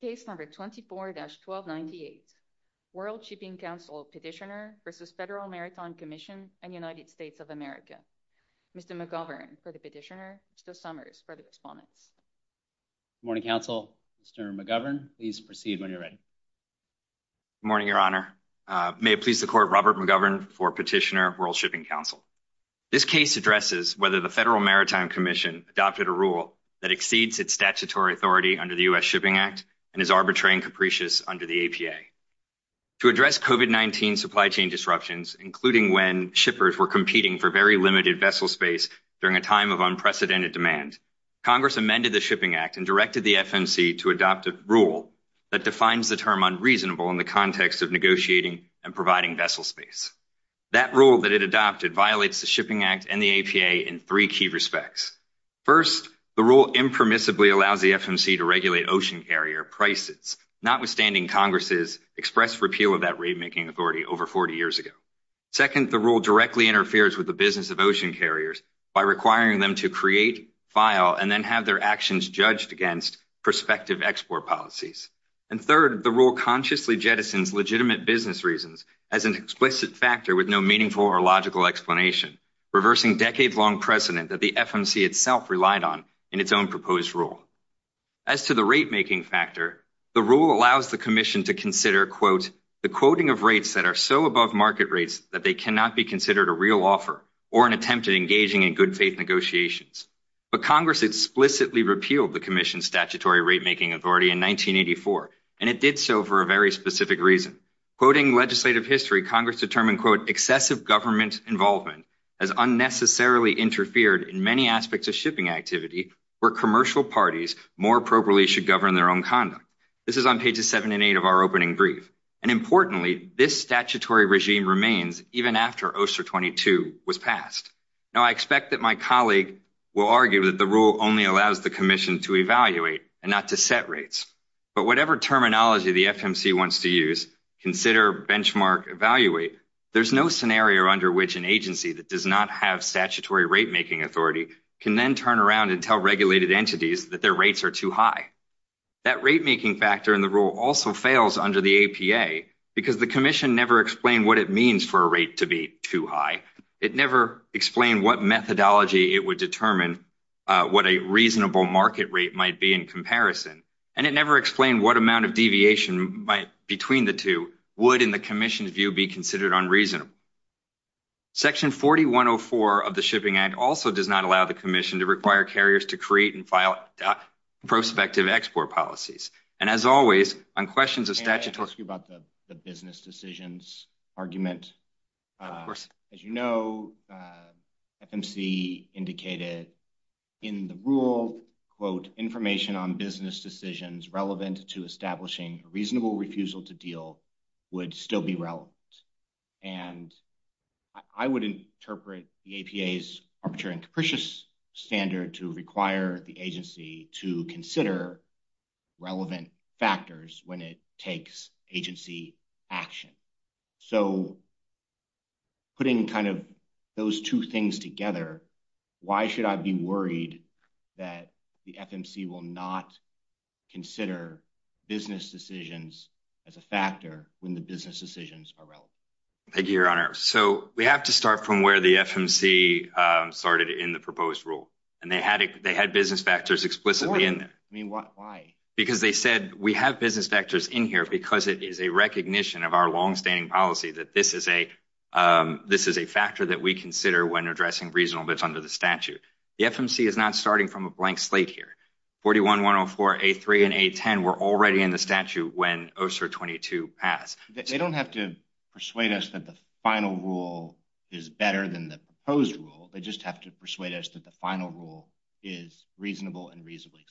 Case No. 24-1298 World Shipping Council Petitioner v. Federal Maritime Commission and United States of America Mr. McGovern for the Petitioner Mr. Summers for the Respondents Good morning counsel Mr. McGovern please proceed when you're ready Good morning your honor may it please the court Robert McGovern for Petitioner World Shipping Council this case addresses whether the Federal Maritime Commission adopted a rule that exceeds its statutory authority under the U.S. Shipping Act and is arbitrary and capricious under the APA to address COVID-19 supply chain disruptions including when shippers were competing for very limited vessel space during a time of unprecedented demand Congress amended the Shipping Act and directed the FMC to adopt a rule that defines the term unreasonable in the context of negotiating and providing vessel space that rule that adopted violates the Shipping Act and the APA in three key respects first the rule impermissibly allows the FMC to regulate ocean carrier prices notwithstanding Congress's express repeal of that rate making authority over 40 years ago second the rule directly interferes with the business of ocean carriers by requiring them to create file and then have their actions judged against prospective export policies and third the rule consciously jettisons legitimate business reasons as an explicit factor with no meaningful or logical explanation reversing decade-long precedent that the FMC itself relied on in its own proposed rule as to the rate making factor the rule allows the Commission to consider quote the quoting of rates that are so above market rates that they cannot be considered a real offer or an attempt at engaging in good faith negotiations but Congress explicitly repealed the Commission's statutory rate making authority in 1984 and it did so for a very specific reason quoting legislative history Congress determined quote excessive government involvement as unnecessarily interfered in many aspects of shipping activity where commercial parties more appropriately should govern their own conduct this is on pages seven and eight of our opening brief and importantly this statutory regime remains even after OSER 22 was passed now I expect that my colleague will argue that the rule only allows the Commission to evaluate and not to set rates but whatever terminology the FMC wants to use consider benchmark evaluate there's no scenario under which an agency that does not have statutory rate making authority can then turn around and tell regulated entities that their rates are too high that rate making factor in the rule also fails under the APA because the Commission never explained what it means for a rate to be too high it never explained what methodology it would determine what a reasonable market rate might be in comparison and it never explained what amount of deviation might between the two would in the Commission's view be considered unreasonable section 4104 of the Shipping Act also does not allow the Commission to require carriers to create and file prospective export policies and as always on questions of statutory about the business decisions argument of course as you know FMC indicated in the rule quote information on business decisions relevant to establishing reasonable refusal to deal would still be relevant and I would interpret the APA's arbitrary and capricious standard to require the agency to consider relevant factors when it takes agency action so putting kind of those two things together why should I be worried that the FMC will not consider business decisions as a factor when the business decisions thank you your honor so we have to start from where the FMC started in the proposed rule and they had they had business factors explicitly in there I mean what why because they said we have business factors in here because it is a recognition of our long-standing policy that this is a this is a factor that we consider when addressing reasonable bits under the statute the FMC is not starting from a blank slate here 41 104 a3 and a10 were already in the statute when OSER 22 passed they don't have to persuade us that the final rule is better than the proposed rule they just have to persuade us that the final rule is reasonable and reasonably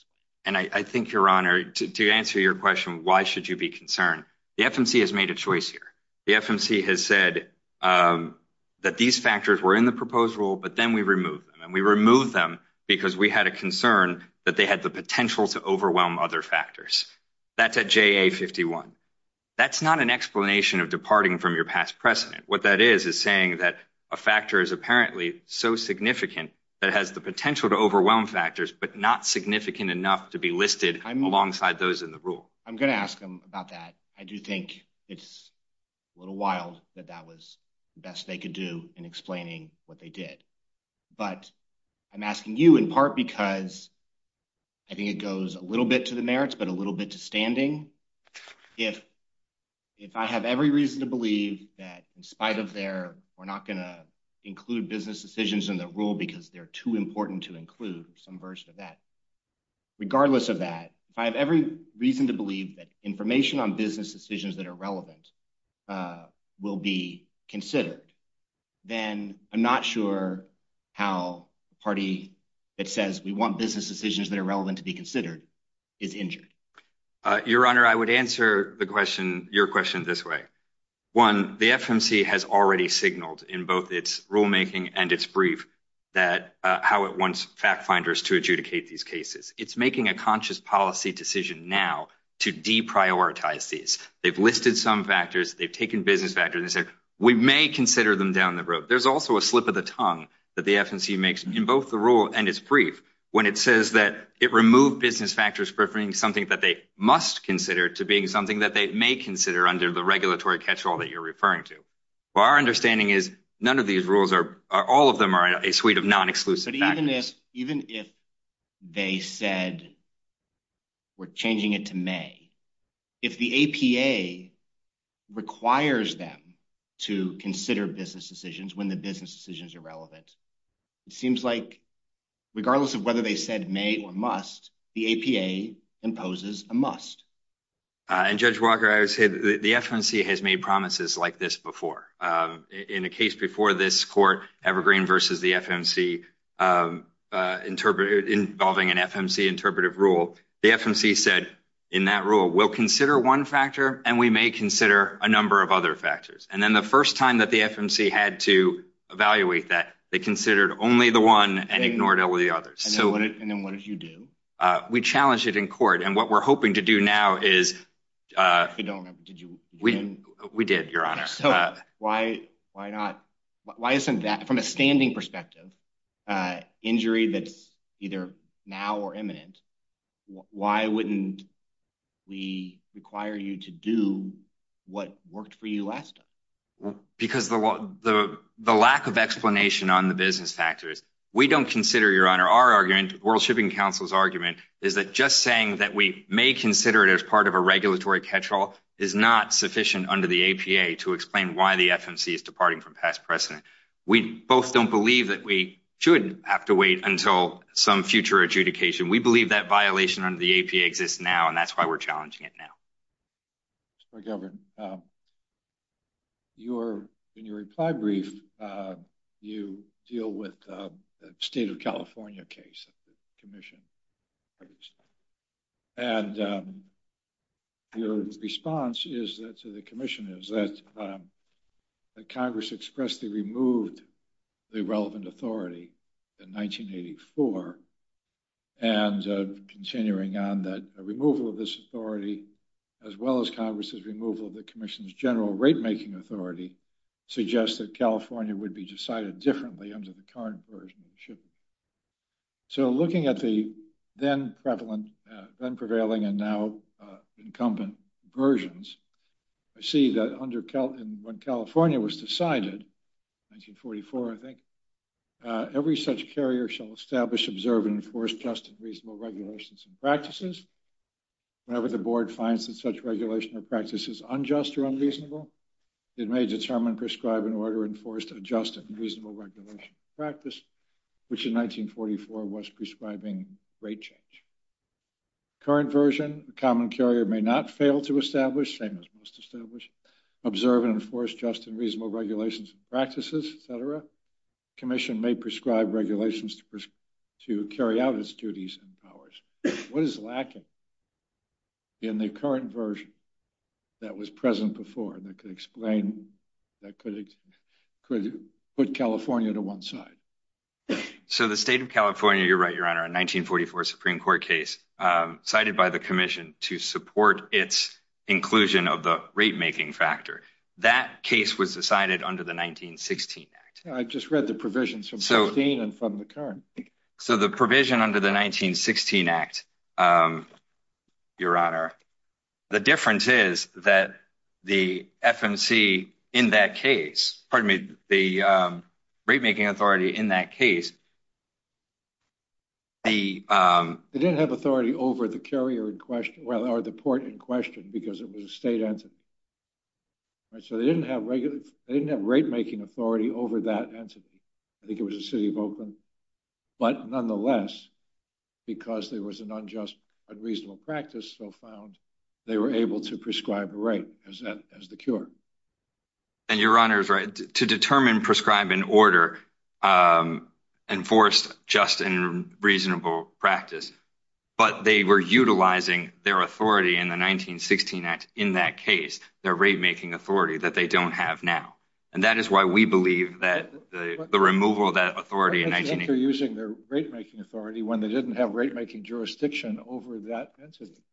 and I think your honor to answer your question why should you be concerned the FMC has made a choice here the FMC has said that these factors were in the proposed rule but then we remove them and we remove them because we had a concern that they had the potential to overwhelm other factors that's JA 51 that's not an explanation of departing from your past precedent what that is is saying that a factor is apparently so significant that has the potential to overwhelm factors but not significant enough to be listed alongside those in the rule I'm gonna ask them about that I do think it's a little wild that that was best they could do in explaining what they did but I'm asking you in part because I think it goes a little bit to the merits but a little bit to if if I have every reason to believe that in spite of their we're not gonna include business decisions in the rule because they're too important to include some version of that regardless of that if I have every reason to believe that information on business decisions that are relevant will be considered then I'm not sure how party that says we want business decisions that are relevant to be considered is injured your honor I would answer the question your question this way one the FMC has already signaled in both its rulemaking and it's brief that how it wants fact-finders to adjudicate these cases it's making a conscious policy decision now to deprioritize these they've listed some factors they've taken business factors and said we may consider them down the road there's also a slip of the tongue that the FMC makes in both the rule and it's brief when it says that it removed business factors preferring something that they must consider to being something that they may consider under the regulatory catch-all that you're referring to our understanding is none of these rules are all of them are a suite of non exclusive even if they said we're changing it to May if the APA requires them to consider business decisions when the business decisions are relevant it seems like regardless of whether they said may or must the APA imposes a must and judge Walker I would say the FMC has made promises like this before in a case before this court evergreen versus the FMC interpret involving an FMC interpretive rule the FMC said in that rule will consider one factor and we may that the FMC had to evaluate that they considered only the one and ignored all the others so what and then what did you do we challenged it in court and what we're hoping to do now is we did your honor so why why not why isn't that from a standing perspective injury that's either now or imminent why wouldn't we require you to do what worked for you last time because the what the the lack of explanation on the business factors we don't consider your honor our argument World Shipping Council's argument is that just saying that we may consider it as part of a regulatory catch-all is not sufficient under the APA to explain why the FMC is departing from past precedent we both don't believe that we shouldn't have to wait until some future adjudication we believe that violation under the APA exists now and that's why we're challenging it now you're in your reply brief you deal with the state of California case Commission and your response is that to the relevant authority in 1984 and continuing on that removal of this authority as well as Congress's removal of the Commission's general rate-making authority suggests that California would be decided differently under the current version of shipping so looking at the then prevalent then prevailing and now incumbent versions I see that under Cal and when California was decided 1944 I think every such carrier shall establish observe and enforce just and reasonable regulations and practices whenever the board finds that such regulation or practice is unjust or unreasonable it may determine prescribe an order enforced adjusted reasonable regulation practice which in 1944 was prescribing rate change current version a common carrier may not fail to establish same as observe and enforce just and reasonable regulations practices etc Commission may prescribe regulations to carry out its duties and powers what is lacking in the current version that was present before and that could explain that could put California to one side so the state of California you're right your honor a 1944 Supreme Court case cited by the Commission to support its inclusion of the rate-making factor that case was decided under the 1916 act I just read the provisions from so Dean and from the current so the provision under the 1916 act your honor the difference is that the FMC in that case pardon me the rate-making authority in that case they didn't have authority over the carrier in question well or the port in question because it was a state answer right so they didn't have regular they didn't have rate-making authority over that entity I think it was a city of Oakland but nonetheless because there was an unjust unreasonable practice so found they were able to prescribe the right as that as the cure and your right to determine prescribe in order enforced just and reasonable practice but they were utilizing their authority in the 1916 act in that case their rate-making authority that they don't have now and that is why we believe that the removal of that authority and I think they're using their rate-making authority when they didn't have rate-making jurisdiction over that entity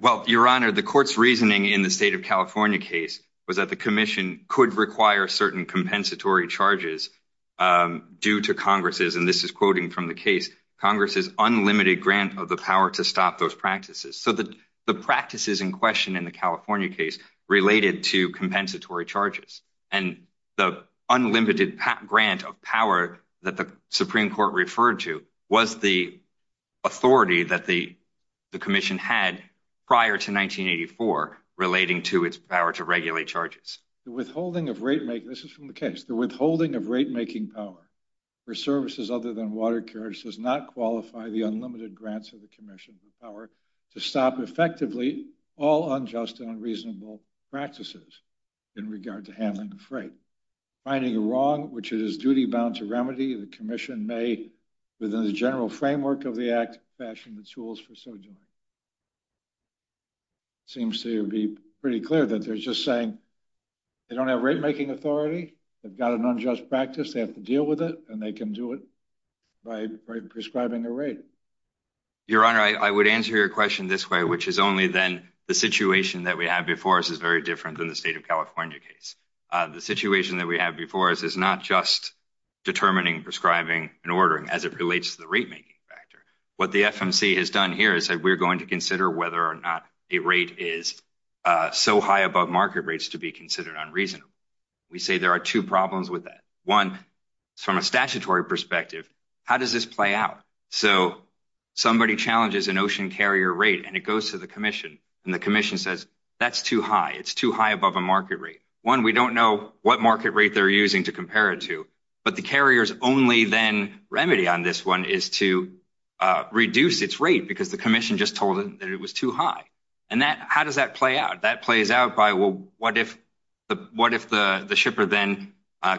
well your honor the courts reasoning in the state of California case was that the Commission could require certain compensatory charges due to Congress's and this is quoting from the case Congress's unlimited grant of the power to stop those practices so that the practices in question in the California case related to compensatory charges and the unlimited patent grant of power that the Supreme Court referred to was the authority that the Commission had prior to 1984 relating to its power to regulate charges the withholding of rate make this is from the case the withholding of rate-making power for services other than water carriage does not qualify the unlimited grants of the Commission power to stop effectively all unjust and unreasonable practices in regard to handling the freight finding a wrong which it is duty bound to remedy the Commission may within the general framework of the act fashion the tools for so doing seems to be pretty clear that they're just saying they don't have rate-making authority they've got an unjust practice they have to deal with it and they can do it by prescribing a rate your honor I would answer your question this way which is only then the situation that we have before us is very different than the state of California case the situation that we have before us is not just determining prescribing and ordering as it relates to the rate-making factor what the FMC has done here is that we're going to consider whether or not a rate is so high above market rates to be considered unreasonable we say there are two problems with that one from a statutory perspective how does this play out so somebody challenges an ocean carrier rate and it goes to the Commission and the Commission says that's too high it's too high above a market rate one we don't know what market rate they're using to compare it to but the carriers only then remedy on this one is to reduce its rate because the Commission just told him that it was too high and that how does that play out that plays out by well what if the what if the the shipper then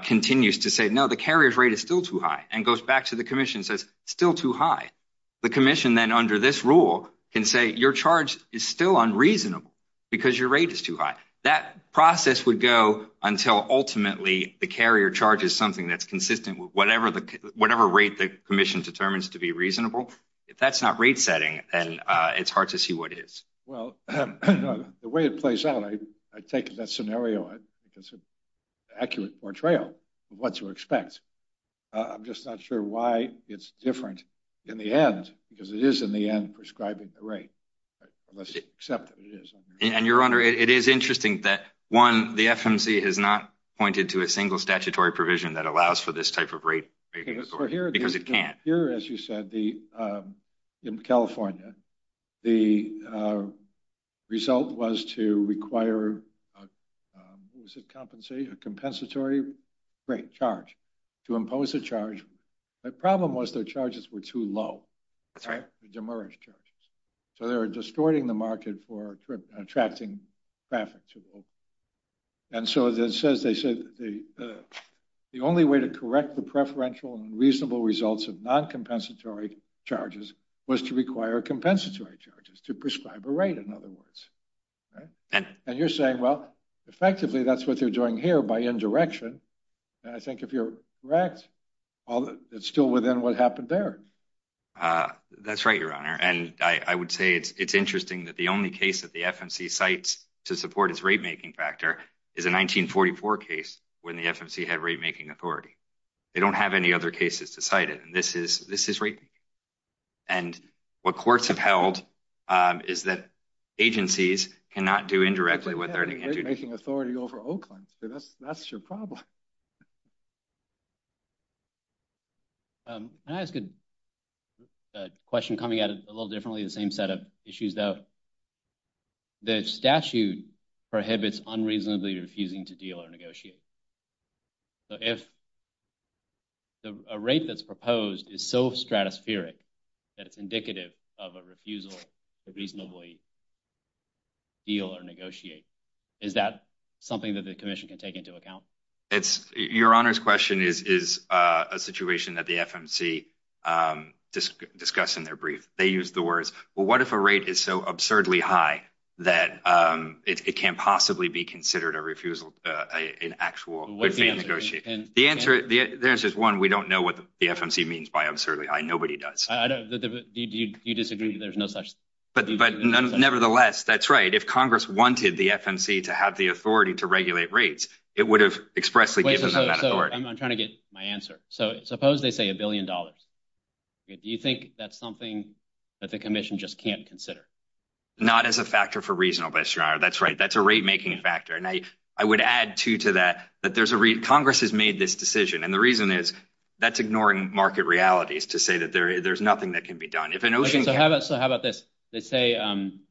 continues to say no the carriers rate is still too high and goes back to the Commission says still too high the Commission then under this rule can say your charge is still unreasonable because your rate is too high that process would go until ultimately the carrier charges something that's consistent with whatever the whatever rate the Commission determines to be reasonable if that's not rate setting and it's hard to see what is well the way it plays out I take that scenario it it's an accurate portrayal of what to expect I'm just not sure why it's different in the end because it is in the end prescribing the rate and your honor it is interesting that one the FMC has not pointed to a single statutory provision that allows for this type of rate because it can't here as you said the in California the result was to require was it compensate a compensatory rate charge to impose a charge my problem was their charges were too low that's right the demurrage charges so they were distorting the market for attracting traffic and so that says they said the only way to correct the preferential and reasonable results of non-compensatory charges was to require compensatory charges to prescribe a rate in other words and and you're saying well effectively that's what they're doing here by indirection and I think if you're correct although it's still within what happened there that's right your honor and I would say it's it's interesting that the only case that the FMC sites to support its rate making factor is a 1944 case when the FMC had rate making authority they don't have any other cases decided and this is this is right and what courts have held is that agencies cannot do directly with authority over Oakland that's that's your problem that's good question coming at it a little differently the same set of issues though the statute prohibits unreasonably refusing to deal or negotiate so if the rate that's proposed is so stratospheric that it's is that something that the Commission can take into account it's your honor's question is a situation that the FMC discuss in their brief they use the words well what if a rate is so absurdly high that it can't possibly be considered a refusal in actual the answer there's just one we don't know what the FMC means by absurdly high nobody does you disagree there's no such but nevertheless that's right if Congress wanted the FMC to have the authority to regulate rates it would have expressly given that I'm trying to get my answer so suppose they say a billion dollars do you think that's something that the Commission just can't consider not as a factor for reasonable HR that's right that's a rate making factor and I I would add to to that that there's a read Congress has made this decision and the reason is that's ignoring market realities to say that there there's nothing that can be done if an ocean so how about so how about this they say I'm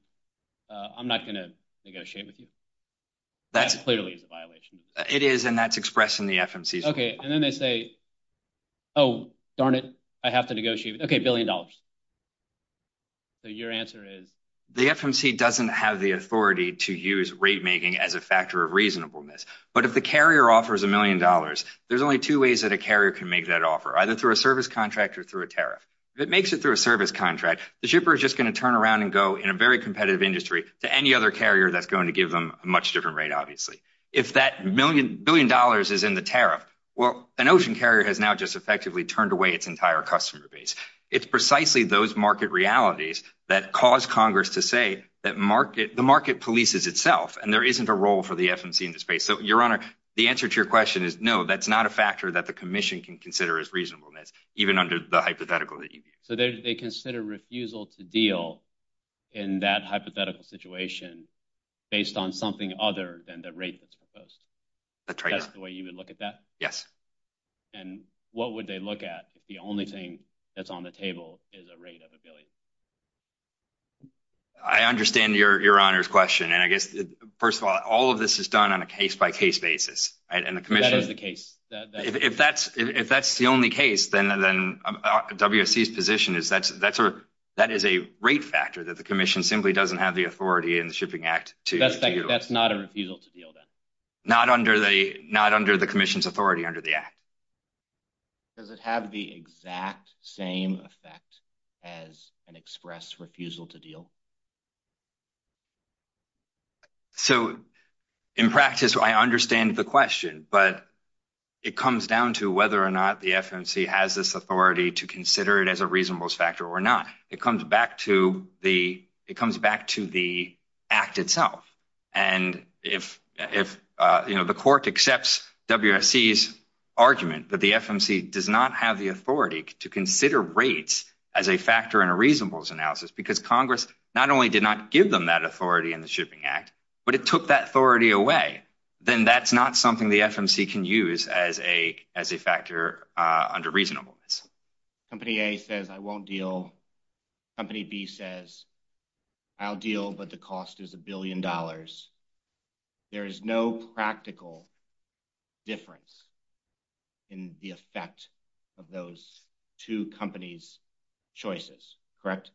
not gonna negotiate with you that's clearly it is and that's expressed in the FMC okay and then they say oh darn it I have to negotiate okay billion dollars so your answer is the FMC doesn't have the authority to use rate making as a factor of reasonableness but if the carrier offers a million dollars there's only two ways that a carrier can make that offer either through a service contractor through a tariff if it makes it through a service contract the shipper is just going to turn around and go in a very competitive industry to any other carrier that's going to give them a much different rate obviously if that million billion dollars is in the tariff well an ocean carrier has now just effectively turned away its entire customer base it's precisely those market realities that cause Congress to say that market the market polices itself and there isn't a role for the FMC in the space so your honor the answer to your question is no that's not a factor that the Commission can consider as reasonableness even under the hypothetical so they consider refusal to deal in that hypothetical situation based on something other than the rate that's proposed that's right the way you would look at that yes and what would they look at if the only thing that's on the table is a rate of ability I understand your honor's question and I guess first of all all of this is done on a case-by-case basis and the commission is the case if that's if that's the only case then then WSC's position is that's that's a that is a rate factor that the Commission simply doesn't have the authority in the Shipping Act to that's not a refusal to deal then not under the not under the Commission's authority under the act does it have the exact same effect as an express refusal to deal so in practice I understand the question but it comes down to whether or not the FMC has this authority to consider it as a reasonableness factor or not it comes back to the it comes back to the act itself and if if you know the court accepts WSC's argument but the FMC does not have the authority to consider rates as a factor in a reasonableness analysis because Congress not only did not give them that authority in the Shipping Act but it took that authority away then that's not something the FMC can use as a as a factor under reasonableness company a says I won't deal company B says I'll deal but the cost is a billion dollars there is no practical difference in the effect of those two companies choices correct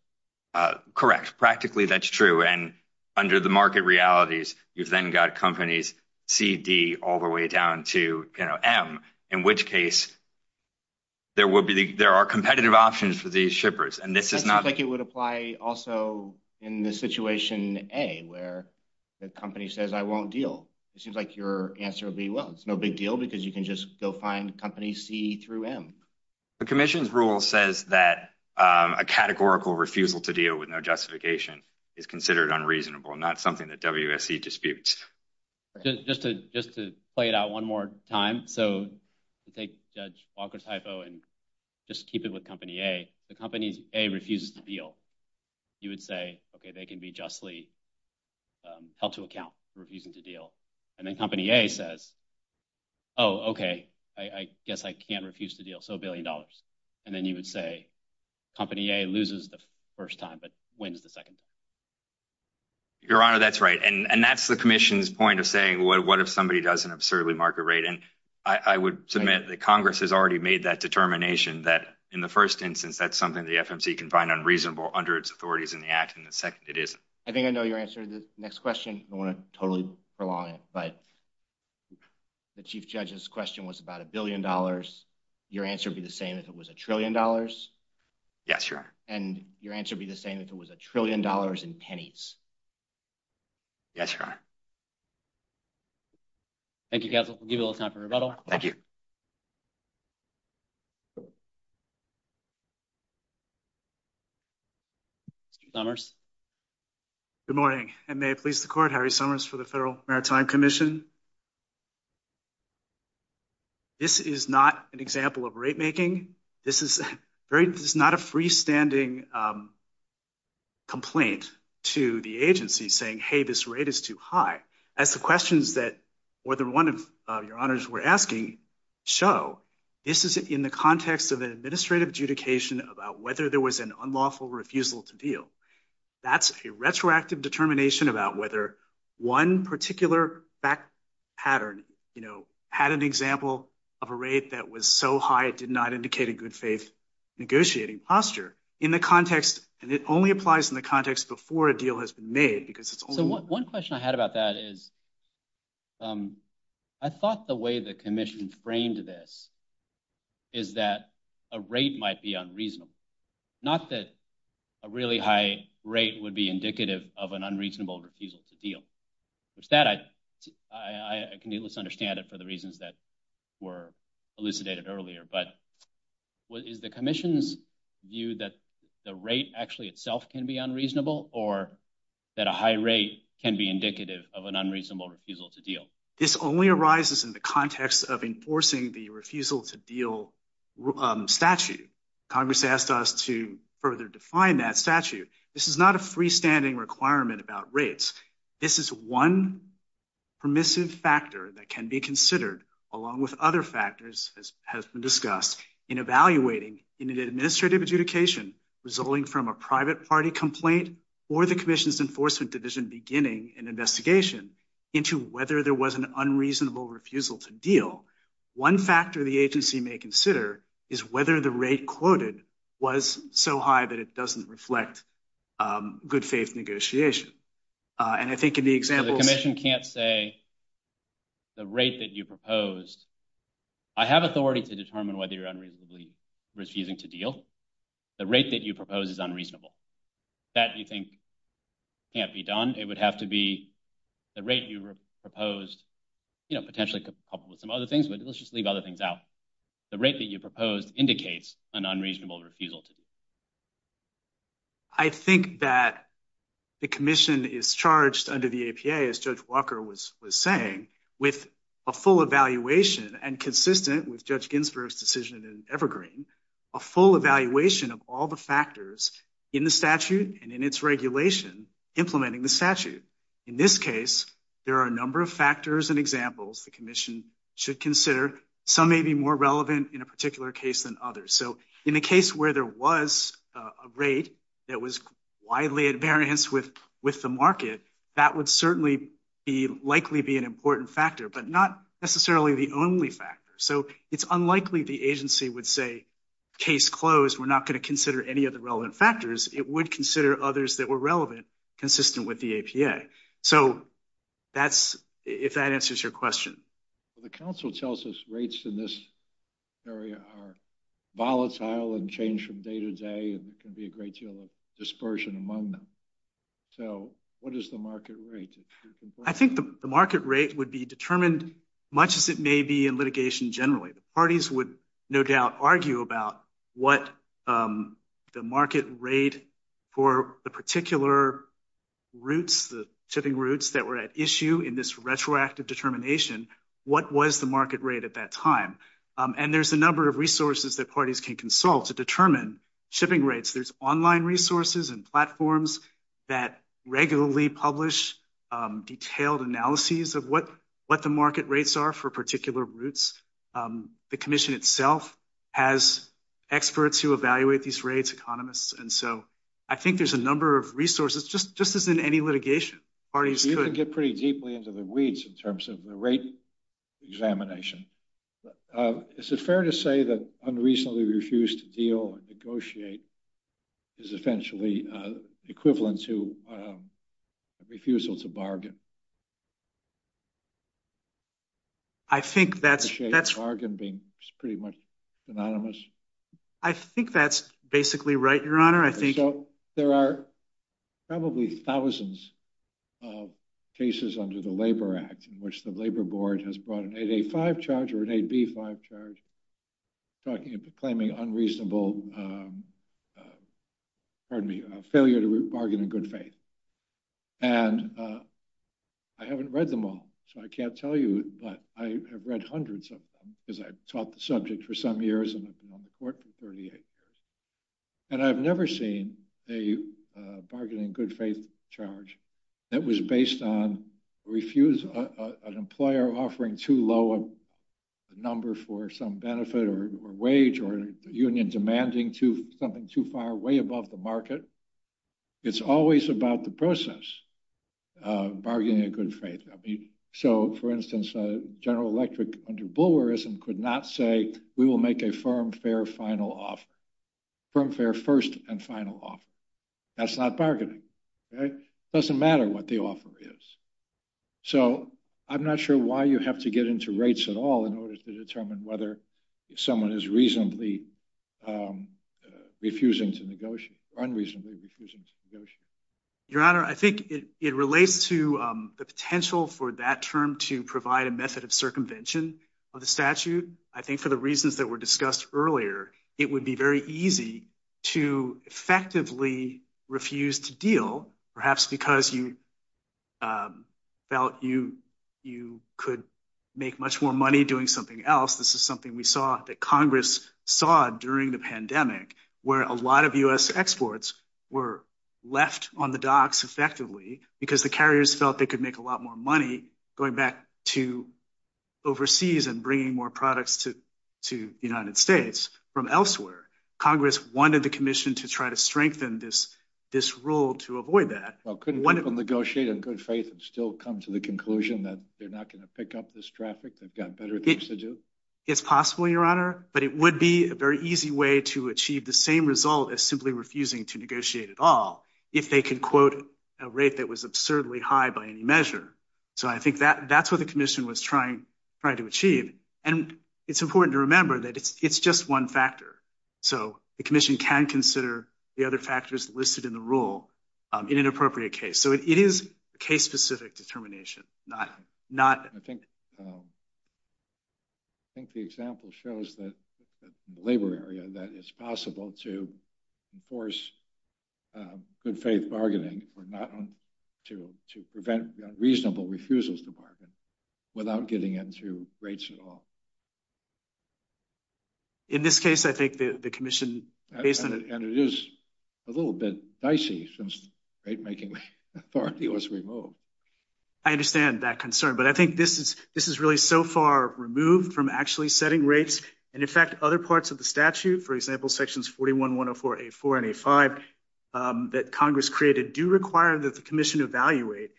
correct practically that's true and under the market realities you've then got companies CD all the way down to you know M in which case there will be there are competitive options for these shippers and this is not like it would apply also in the situation a where the company says I won't deal it seems like your answer will be well it's no big deal because you can just go find company C through M the Commission's rule says that a categorical refusal to deal with no justification is considered unreasonable not something that WSC disputes just to just to play it out one more time so take judge Walker's hypo and just keep it with company a the company's a refuses to deal you would say okay they can be justly held to account refusing to deal and then company a says oh okay I guess I can't refuse to deal so billion dollars and then you would say company a loses the first time but wins the second your honor that's right and and that's the Commission's point of saying what if somebody does an absurdly market rate and I would submit that Congress has already made that determination that in the first instance that's something the FMC can find unreasonable under its authorities in the act in the second it isn't I think I know your answer to the next question I want to totally prolong it but the chief judge's question was about a billion dollars your answer be the same as it was a trillion dollars yes sir and your answer be the same if it was a trillion dollars in pennies yes sir thank you guys we'll give you a little time for rebuttal thank you Summers good morning and may it please the court Harry Summers for the Federal Maritime Commission this is not an example of rate making this is very this is not a freestanding complaint to the agency saying hey this rate is too high as the questions that whether one of your honors were asking show this is in the context of an administrative adjudication about whether there was an unlawful refusal to deal that's a retroactive determination about whether one particular back pattern you know had an example of a rate that was so high it did not indicate a good faith negotiating posture in the context and it only applies in the context before a deal has been made because it's one question I had about that is I thought the way the Commission framed this is that a rate might be unreasonable not that a really high rate would be indicative of an unreasonable refusal to deal it's that I can you let's understand it for the reasons that were elucidated earlier but what is the Commission's view that the rate actually itself can be unreasonable or that a high rate can be indicative of an unreasonable refusal to deal this only arises in the context of enforcing the refusal to deal statute Congress asked us to further define that statute this is not a freestanding requirement about rates this is one permissive factor that can be considered along with other factors as has been discussed in evaluating in an administrative adjudication resulting from a private party complaint or the Commission's enforcement division beginning an investigation into whether there was an unreasonable refusal to deal one factor the agency may consider is whether the rate quoted was so high that it doesn't reflect good faith negotiation and I think in the example the Commission can't say the rate that you proposed I have authority to determine whether you're unreasonably refusing to deal the rate that you propose is unreasonable that you think can't be done it would have to be the rate you proposed you know potentially couple with some other things but let's just leave other things out the rate that you proposed indicates an unreasonable refusal to do I think that the Commission is charged under the APA as Judge Walker was was saying with a full evaluation and consistent with Judge Ginsburg's decision in Evergreen a full evaluation of all the factors in the statute and in its regulation implementing the statute in this case there are a number of factors and examples the Commission should consider some may be more relevant in a particular case than others so in the case where there was a rate that was widely at variance with with the market that would certainly be likely be an important factor but not necessarily the only factor so it's unlikely the agency would say case closed we're not going to consider any of the relevant factors it would consider others that were relevant consistent with the APA so that's if that answers your question the council tells us rates in this area are volatile and change from day to day and there can be a great deal of dispersion among them so what is the market rate I think the market rate would be determined much as it may be in litigation generally the parties would no doubt argue about what the market rate for the particular routes the shipping routes that were at issue in this retroactive determination what was the market rate at that time and there's a number of resources that parties can consult to determine shipping rates there's online resources and platforms that regularly publish detailed analyses of what what the market rates are for particular routes the Commission itself has experts who evaluate these rates economists and so I think there's a number of resources just just as in any litigation parties to get pretty deeply into the weeds in terms of the rate examination is it fair to say that unreasonably refused to deal and negotiate is eventually equivalent to refusal to bargain I think that's that's argon being pretty much anonymous I think that's basically right your honor I think so there are probably thousands of cases under the Labor Act in which the Labor Board has brought an 8a5 charge or an 8b5 charge talking about claiming unreasonable pardon me failure to bargain in good faith and I haven't read them all so I can't tell you but I have read hundreds of them because I've taught the subject for some years and I've been on the court for 38 years and I've never seen a bargaining good-faith charge that was based on refuse an employer offering too low a number for some benefit or wage or union demanding to something too far way above the market it's always about the process bargaining a good faith I mean so for instance a General Electric under bulwarism could not say we will make a firm fair final off from fair first and final off that's not bargaining okay doesn't matter what the offer is so I'm not sure why you have to get into rates at all in order to determine whether someone is reasonably refusing to negotiate your honor I think it relates to the potential for that term to provide a method of circumvention of the statute I think for the reasons that were discussed earlier it would be very easy to effectively refuse to deal perhaps because you felt you you could make much more money doing something else this is something we saw that Congress saw during the pandemic where a lot of u.s. exports were left on the docks effectively because the carriers felt they could make a lot more money going back to overseas and bringing more products to the United States from elsewhere Congress wanted the Commission to try to strengthen this this rule to avoid that well couldn't one of them negotiate in good faith and still come to the conclusion that they're not going to pick up this traffic they've got better things to do it's possible your honor but it would be a very easy way to achieve the same result as simply refusing to negotiate at all if they could quote a rate that was absurdly high by any measure so I think that that's what the Commission was trying right to achieve and it's important to remember that it's it's just one factor so the Commission can consider the other factors listed in the rule in an appropriate case so it is case-specific determination not not I think I think the example shows that labor area that it's possible to enforce good faith bargaining or not on to to prevent reasonable refusals department without getting into rates at all in this case I think the Commission and it is a little bit dicey since great making I understand that concern but I think this is this is really so far removed from actually setting rates and in fact other parts of the statute for example sections 41 104 a 4 and a 5 that Congress created do require that the Commission evaluate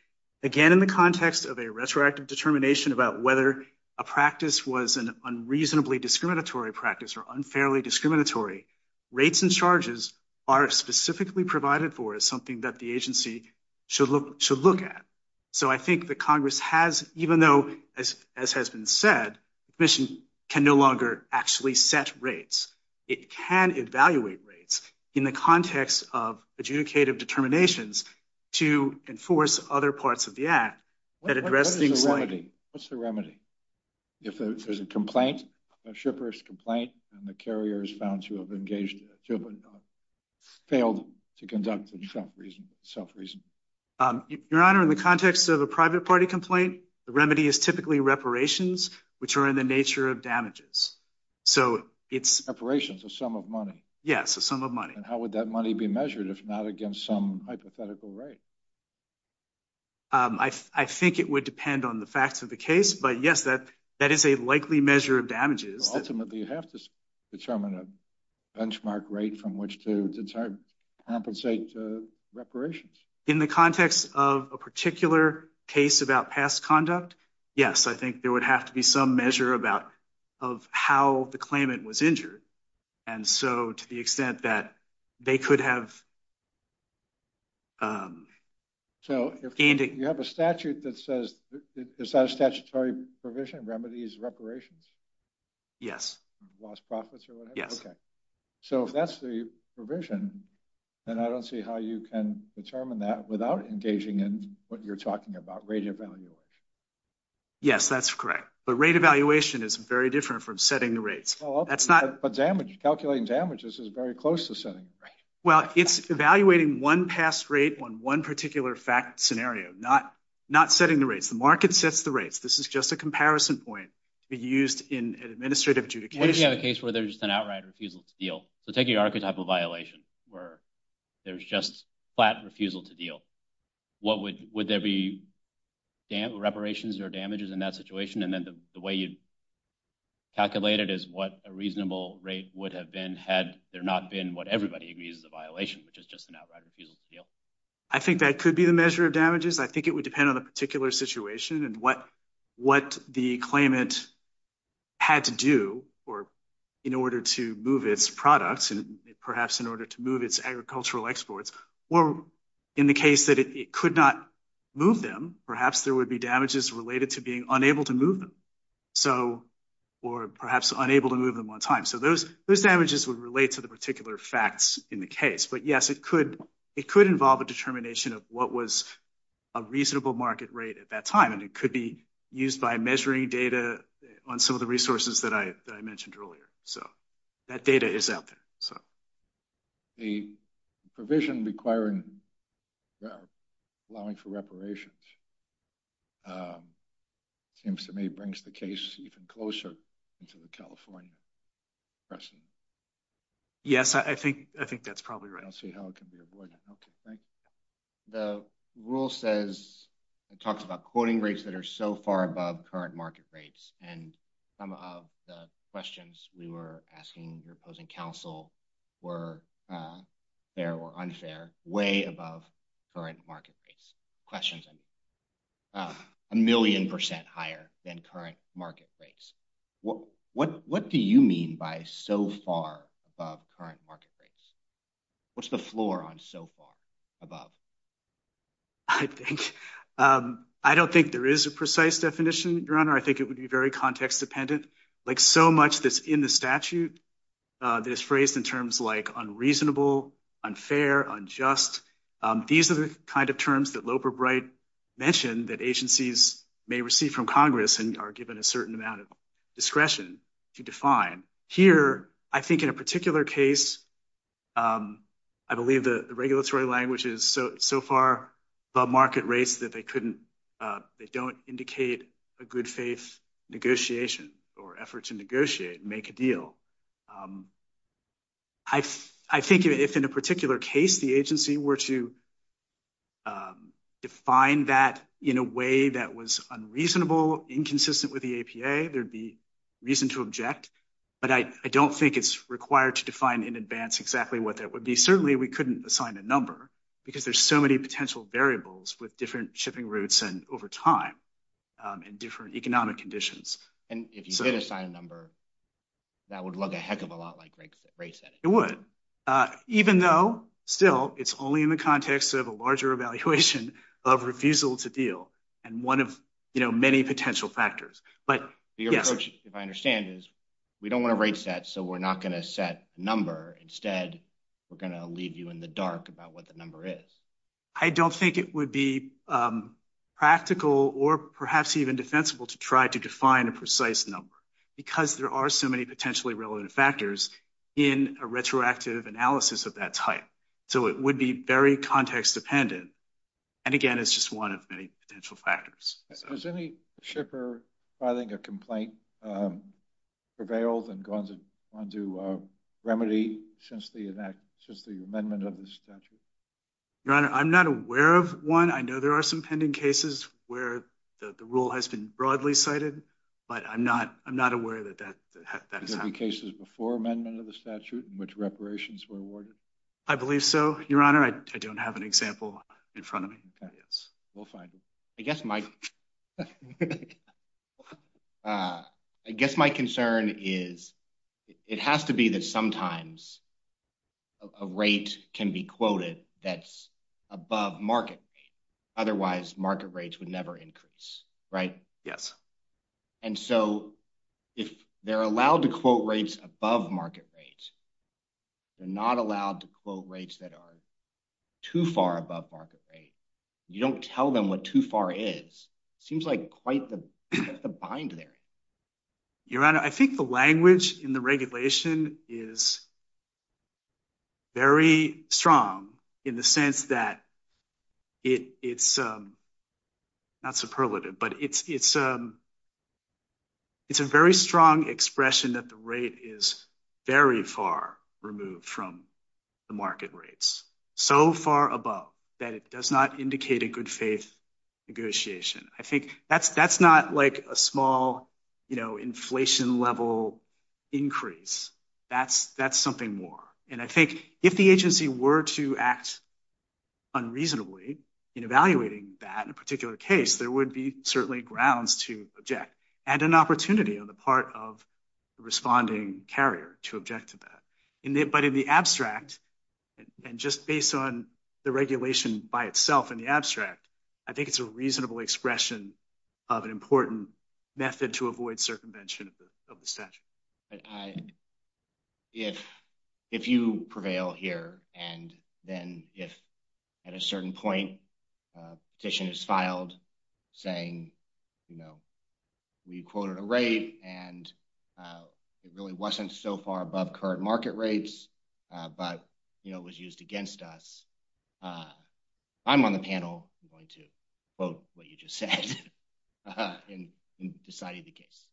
again in the context of a retroactive determination about whether a practice was an unreasonably discriminatory practice or unfairly discriminatory rates and charges are specifically provided for as something that the agency should look to look at so I think the Congress has even though as has been said mission can no longer actually set rates it can evaluate rates in the context of adjudicative determinations to enforce other parts of the act that address things like a remedy if there's a complaint a shippers complaint and the carrier is found to have engaged failed to conduct itself reason self-reason your honor in the context of a private party complaint the remedy is typically reparations which are in the nature of damages so it's operations a sum of money yes a sum of money and how would that money be measured if not against some hypothetical rate I think it would on the facts of the case but yes that that is a likely measure of damages determine a benchmark rate from which to compensate reparations in the context of a particular case about past conduct yes I think there would have to be some measure about of how the claimant was injured and so to extent that they could have so if you have a statute that says the statutory provision remedies reparations yes yes so if that's the provision and I don't see how you can determine that without engaging in what you're talking about radio value yes that's correct but rate evaluation is very different from setting the rates that's not a damage calculating damages is very close to setting well it's evaluating one past rate on one particular fact scenario not not setting the rates the market sets the rates this is just a comparison point to be used in administrative judicature case where there's an outright refusal to deal so taking archetypal violation where there's just flat refusal to deal what would would there be dam reparations or damages in that situation and then the way you calculated is what a reasonable rate would have been had there not been what everybody agrees the violation which is just an outright refusal to deal I think that could be the measure of damages I think it would depend on a particular situation and what what the claimant had to do or in order to move its products and perhaps in order to move its agricultural exports or in the case that it could not move them perhaps there would be damages related to being unable to move them so or perhaps unable to move them on time so those those damages would relate to the particular facts in the case but yes it could it could involve a determination of what was a reasonable market rate at that time and it could be used by measuring data on some of the resources that I mentioned earlier so that data is out there so the provision requiring allowing for reparations seems to me brings the case even closer into the California pressing yes I think I think that's probably right I'll see how it can be avoided okay the rule says it talks about quoting rates that are so far above current market rates and some of the questions we were asking your opposing counsel were there were unfair way above current market rates questions and a million percent higher than current market rates what what what do you mean by so far above current market rates what's the floor on so far above I think I don't think there is a precise definition your honor I think it would be very context-dependent like so much that's in the statute that is phrased in terms like unreasonable unfair unjust these are the kind of terms that Loper bright mentioned that agencies may receive from Congress and are given a certain amount of discretion to define here I think in a particular case I believe the regulatory language is so so far above market rates that they couldn't they don't indicate a good-faith negotiation or effort to negotiate make a deal I think if in a particular case the agency were to define that in a way that was unreasonable inconsistent with the APA there'd be reason to object but I don't think it's required to define in advance exactly what that would be certainly we couldn't assign a number because there's so many potential variables with different shipping routes and over time and different economic conditions and if you did assign a number that would look a heck of a lot like race it would even though still it's only in the context of a larger evaluation of refusal to deal and one of you know many potential factors but if I understand is we don't want to rate set so we're not going to set number instead we're going to leave you in the dark about what the number is I don't think it would be practical or perhaps even defensible to try to define a precise number because there are so many potentially relevant factors in a retroactive analysis of that type so it would be very context dependent and again it's just one of many potential factors there's any shipper I think a complaint prevailed on to remedy since the event just the amendment of the statute your honor I'm not aware of one I know there are some pending cases where the rule has been broadly cited but I'm not I'm not aware that that the cases before amendment of the statute in which reparations were awarded I believe so your honor I don't have an example in front of me yes we'll find it I guess my I guess my concern is it has to be that sometimes a rate can be quoted that's above market otherwise market rates would never increase right yes and so if they're allowed to quote rates above market rates they're not allowed to quote rates that are too far above market rate you don't tell them what too far is seems like quite the bind there your honor I think the language in the regulation is very strong in the sense that it it's not superlative but it's it's a it's a very strong expression that the rate is very far removed from the market rates so far above that it does not indicate a good faith negotiation I think that's that's not like a small you know inflation level increase that's that's something more and I think if the agency were to act unreasonably in evaluating that in a particular case there would be certainly grounds to object and an opportunity on the part of the responding carrier to object to that in there but in the abstract and just based on the regulation by itself in the abstract I think it's a reasonable expression of an important method to avoid circumvention of the statute if if you prevail here and then if at a certain point petition is filed saying you know we quoted a rate and it really wasn't so far above current market rates but you know it was used against us I'm on the panel I'm going to quote what you just said and decided the case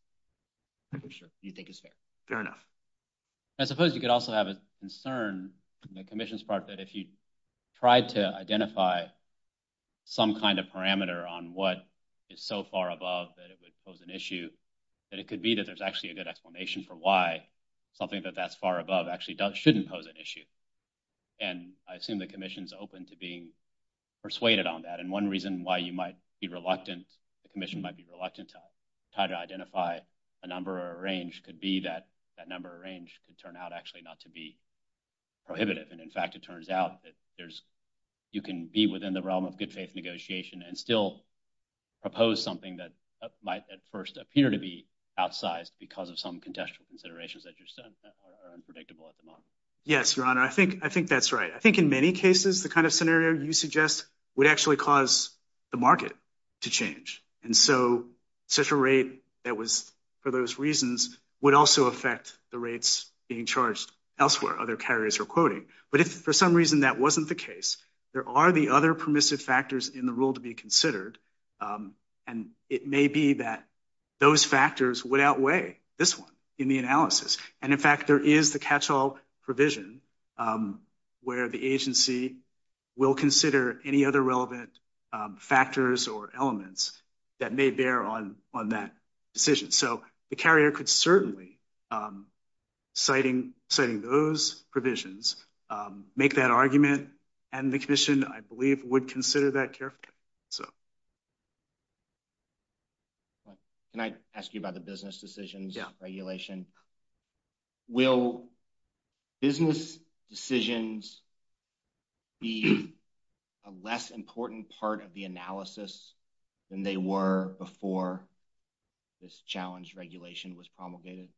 I'm sure you think it's fair fair enough I suppose you could also have a concern the Commission's part that if you tried to identify some kind of parameter on what is so far above that it would pose an issue that it could be that there's actually a good explanation for why something that that's far above actually does shouldn't pose an issue and I assume the Commission's open to being persuaded on that and one reason why you might be reluctant the Commission might be reluctant to try to identify a number or a range could be that that number of range could turn out actually not to be prohibitive and in fact it turns out that there's you can be within the realm of good faith negotiation and still propose something that might at first appear to be outsized because of some contextual considerations that you said are unpredictable at the moment yes your honor I think I think that's right I think in many cases the kind of scenario you suggest would actually cause the market to change and so such a rate that was for those reasons would also affect the rates being charged elsewhere other carriers are quoting but if for some reason that wasn't the case there are the other permissive factors in the rule to be considered and it may be that those factors would outweigh this one in the analysis and in fact there is the catch-all provision where the agency will consider any other relevant factors or elements that may bear on on that decision so the carrier could certainly citing citing those provisions make that argument and the Commission I believe would consider that carefully so can I ask you about the business decisions regulation will business decisions be a less important part of the analysis than they were before this challenge regulation was promulgated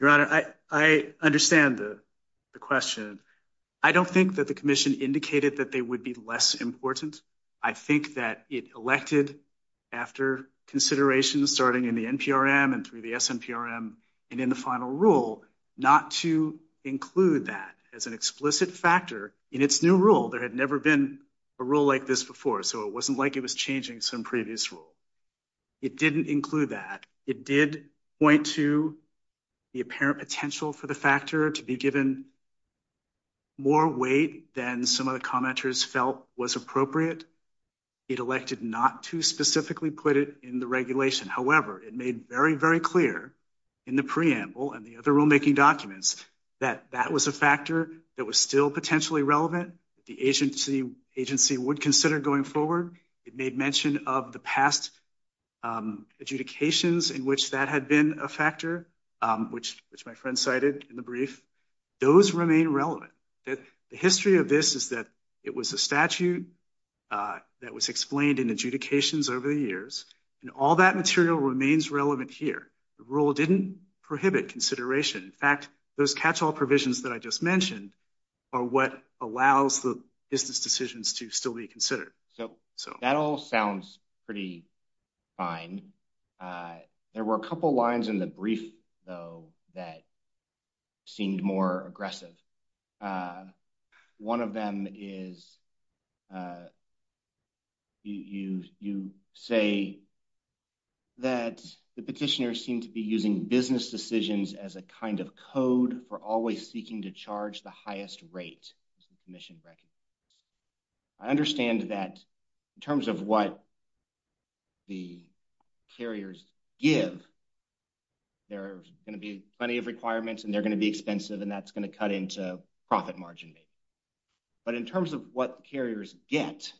your honor I understand the question I don't think that the Commission indicated that they would be less important I think that it elected after consideration starting in the NPRM and through the SNPRM and in the final rule not to include that as an explicit factor in its new rule there had never been a rule like this before so it wasn't like it was changing some previous rule it didn't include that it did point to the apparent potential for the factor to be given more weight than some of the commenters felt was appropriate it elected not to specifically put it in the regulation however it made very very clear in the preamble and the other rulemaking documents that that was a factor that was still potentially relevant the agency agency would consider going forward it made mention of the past adjudications in which that had been a factor which which my remain relevant the history of this is that it was a statute that was explained in adjudications over the years and all that material remains relevant here the rule didn't prohibit consideration in fact those catch-all provisions that I just mentioned are what allows the business decisions to still be considered so so that all sounds pretty fine there were a couple lines in the brief though that seemed more aggressive one of them is you you say that the petitioners seem to be using business decisions as a kind of code for always seeking to charge the highest rate as the going to be plenty of requirements and they're going to be expensive and that's going to cut into profit margin but in terms of what carriers get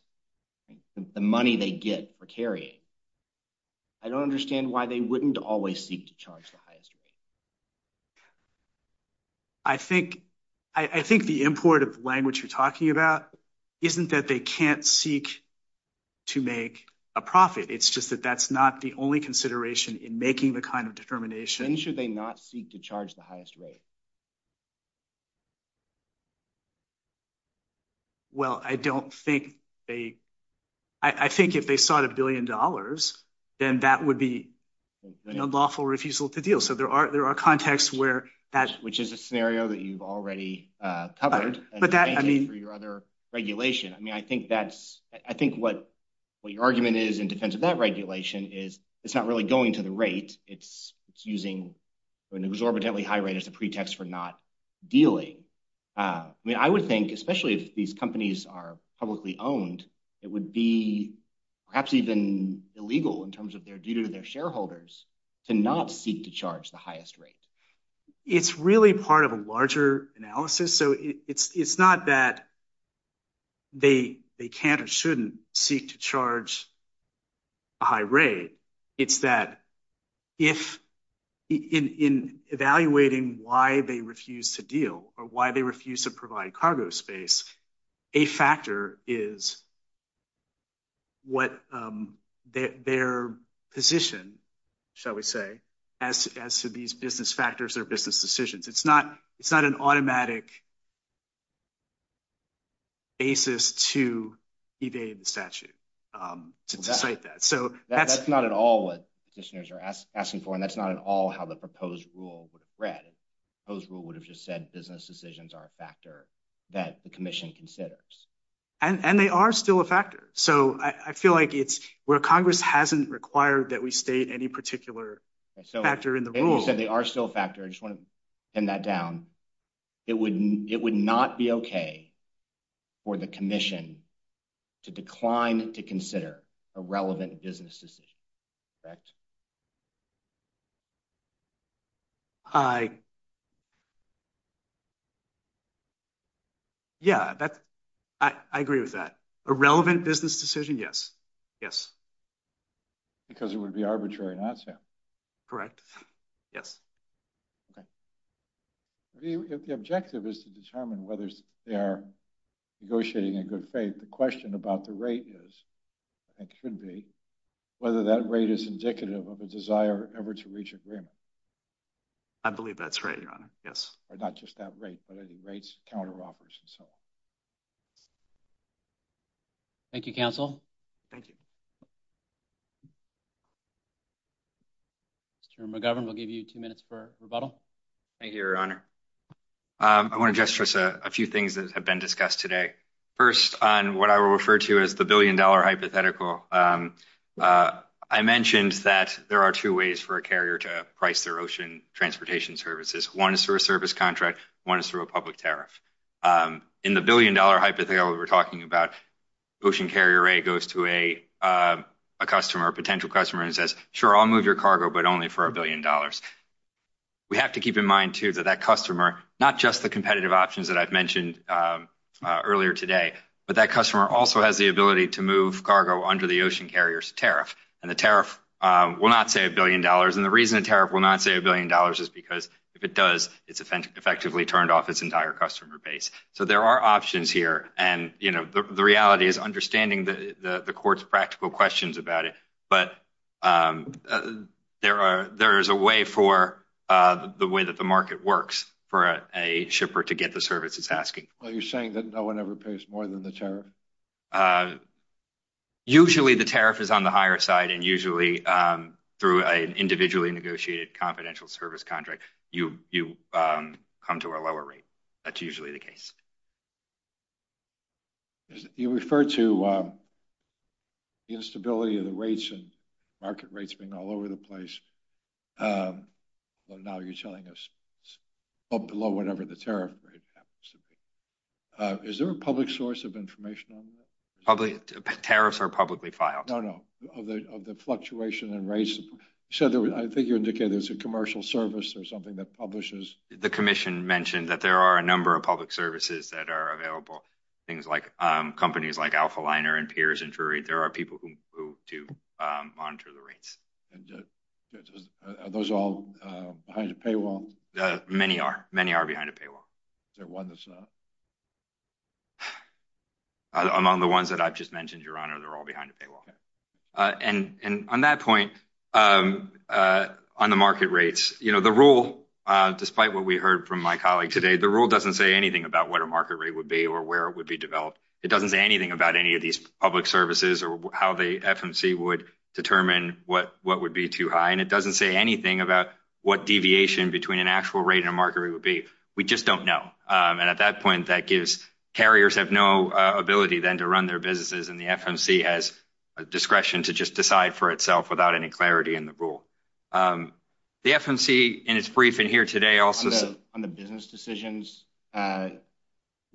the money they get for carrying I don't understand why they wouldn't always seek to charge the highest rate I think I think the import of language you're talking about isn't that they can't seek to make a profit it's just that that's not the only consideration in making the kind of determination should they not seek to charge the highest rate well I don't think they I think if they sought a billion dollars then that would be a lawful refusal to deal so there are there are contexts where that which is a scenario that you've already uh covered but that I mean for your other regulation I mean I think that's I think what what your argument is in defense of that regulation is it's not really going to the rate it's it's using an exorbitantly high rate as a pretext for not dealing I mean I would think especially if these companies are publicly owned it would be perhaps even illegal in terms of their due to their shareholders to not seek to charge the highest rate it's really part of a larger analysis so it's it's not that they they can't or shouldn't seek to charge a high rate it's that if in in evaluating why they refuse to deal or why they refuse to provide cargo space a factor is what um their position shall we say as as to these business factors or business decisions it's not it's not an automatic basis to evade the statute um to cite that so that's not at all what positioners are asking for and that's not at all how the proposed rule would have read those rule would have just said business decisions are a factor that the commission considers and and they are still a factor so I feel like it's where congress hasn't required that we state any particular factor in the rules that they are still a factor I just want to pin that down it would it would not be okay for the commission to decline to consider a relevant business decision correct I yeah that's I I agree with that a relevant business decision yes yes because it would be arbitrary not to correct yes okay the objective is to determine whether they are negotiating in good faith the question about the rate is it could be whether that rate is indicative of a desire ever to reach agreement I believe that's right your honor yes or not just that rate but I think rates counter offers and so thank you counsel thank you Mr. McGovern we'll give you two minutes for rebuttal thank you your honor um I want to just stress a few things that have been discussed today first on what I will refer to as the billion dollar hypothetical I mentioned that there are two ways for a carrier to price their ocean transportation services one is through a service contract one is through a public tariff in the billion dollar hypothetical we're talking about ocean carrier a goes to a a customer a potential customer and says sure I'll move your cargo but only for a billion dollars we have to keep in mind too that that customer not just the competitive options that I've mentioned earlier today but that also has the ability to move cargo under the ocean carrier's tariff and the tariff will not say a billion dollars and the reason a tariff will not say a billion dollars is because if it does it's effectively turned off its entire customer base so there are options here and you know the reality is understanding the the court's practical questions about it but um there are there is a way for uh the way that the market works for a shipper to get the service it's asking well you're saying that no one ever pays more than the tariff uh usually the tariff is on the higher side and usually um through an individually negotiated confidential service contract you you um come to a lower rate that's usually the case you refer to um the instability of the rates and market rates being all over the place um well now you're telling us well below whatever the tariff rate should be uh is there a public source of information on that probably tariffs are publicly filed no no of the of the fluctuation and race so there was i think you indicated there's a commercial service or something that publishes the commission mentioned that there are a number of public services that are available things like um companies like alpha liner and peers injury there are people who who do um monitor the rates and uh are those all uh behind the paywall many are many are behind a paywall is there one that's not among the ones that i've just mentioned your honor they're all behind a paywall uh and and on that point um uh on the market rates you know the rule uh despite what we heard from my colleague today the rule doesn't say anything about what a market rate would be or where it would be developed it doesn't say anything about any of these public services or how the fmc would determine what what would be too high and it doesn't say anything about what deviation between an actual rate and a market rate would be we just don't know and at that point that gives carriers have no ability then to run their businesses and the fmc has a discretion to just decide for itself without any clarity in the rule um the fmc in its briefing here today also on the business decisions uh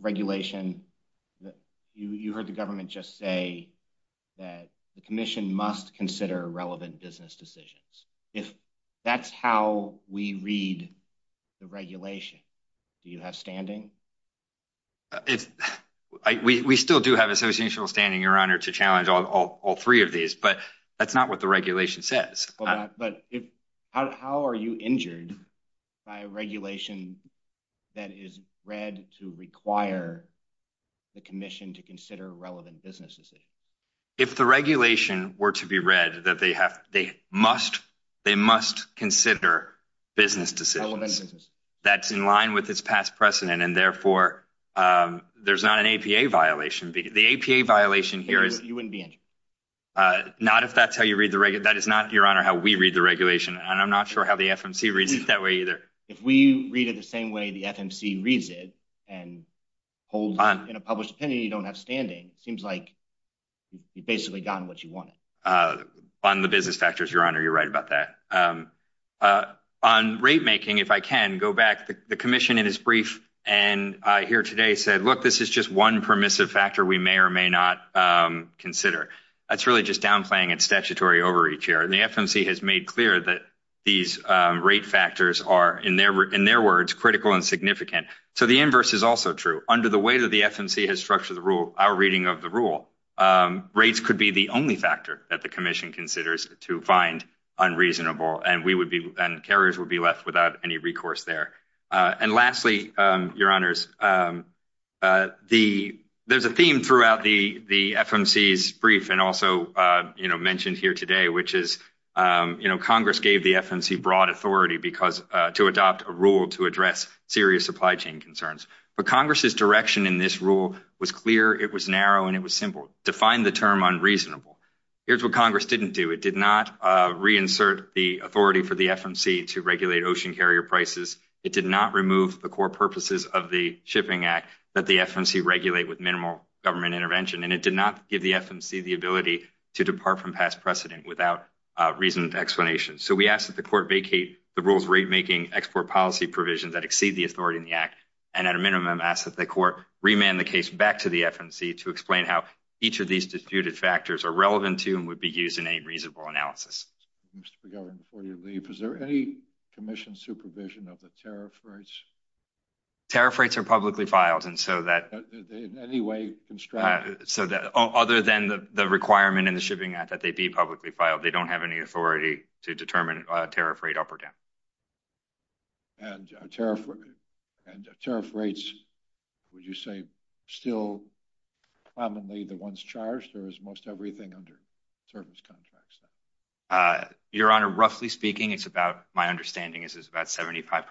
regulation you heard the government just say that the commission must consider relevant business decisions if that's how we read the regulation do you have standing if we we still do have associational standing your honor to challenge all all three of these but that's not what the regulation says but if how are you injured by a regulation that is read to require the commission to consider relevant business decisions if the regulation were to be read that they have they must they must consider business decisions that's in line with its past precedent and therefore um there's not an apa violation because the apa violation here is you wouldn't be injured uh not if that's how you read that is not your honor how we read the regulation and i'm not sure how the fmc reads it that way either if we read it the same way the fmc reads it and hold on in a published opinion you don't have standing it seems like you've basically gotten what you wanted uh on the business factors your honor you're right about that um uh on rate making if i can go back the commission in his brief and i hear today said look this is just one permissive factor we may or may not um consider that's really just downplaying its statutory overreach here and the fmc has made clear that these um rate factors are in their in their words critical and significant so the inverse is also true under the way that the fmc has structured the rule our reading of the rule um rates could be the only factor that the commission considers to find unreasonable and we would be and carriers would be left without any recourse there uh and lastly um your honors um uh the there's a theme throughout the the fmc's brief and also uh you know mentioned here today which is um you know congress gave the fmc broad authority because to adopt a rule to address serious supply chain concerns but congress's direction in this rule was clear it was narrow and it was simple define the term unreasonable here's what congress didn't do it did not uh reinsert the authority for the fmc to regulate ocean carrier prices it did not remove the core purposes of the shipping act that the fmc regulate with minimal government intervention and it did not give the fmc the ability to depart from past precedent without uh reasoned explanation so we asked that the court vacate the rules rate making export policy provisions that exceed the authority in the act and at a minimum ask that the court remand the case back to the fmc to explain how each of these disputed factors are relevant to and would be used in a reasonable analysis is there any commission supervision of the tariff rates tariff rates are publicly filed and so that in any way constructed so that other than the the requirement in the shipping act that they'd be publicly filed they don't have any authority to determine a tariff rate up or down and tariff and tariff rates would you say still commonly the ones charged or is most everything under service contracts uh your honor roughly speaking it's about my understanding is about 75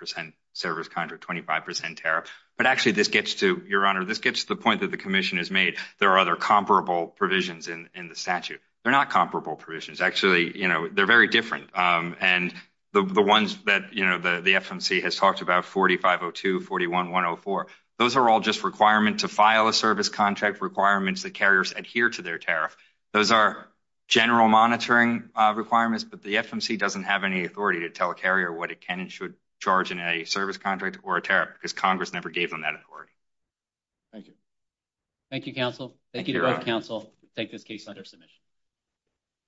service contract 25 tariff but actually this gets to your honor this gets the point that the commission has made there are other comparable provisions in in the statute they're not comparable provisions actually you know they're very different um and the the ones that you know the the fmc has talked about 4502 41 104 those are all just requirement to file a service contract requirements that carriers adhere to their tariff those are general monitoring uh requirements but the fmc doesn't have any authority to tell a carrier what it can and should charge in a service contract or a tariff because congress never gave them that authority thank you thank you counsel thank you counsel take this case under submission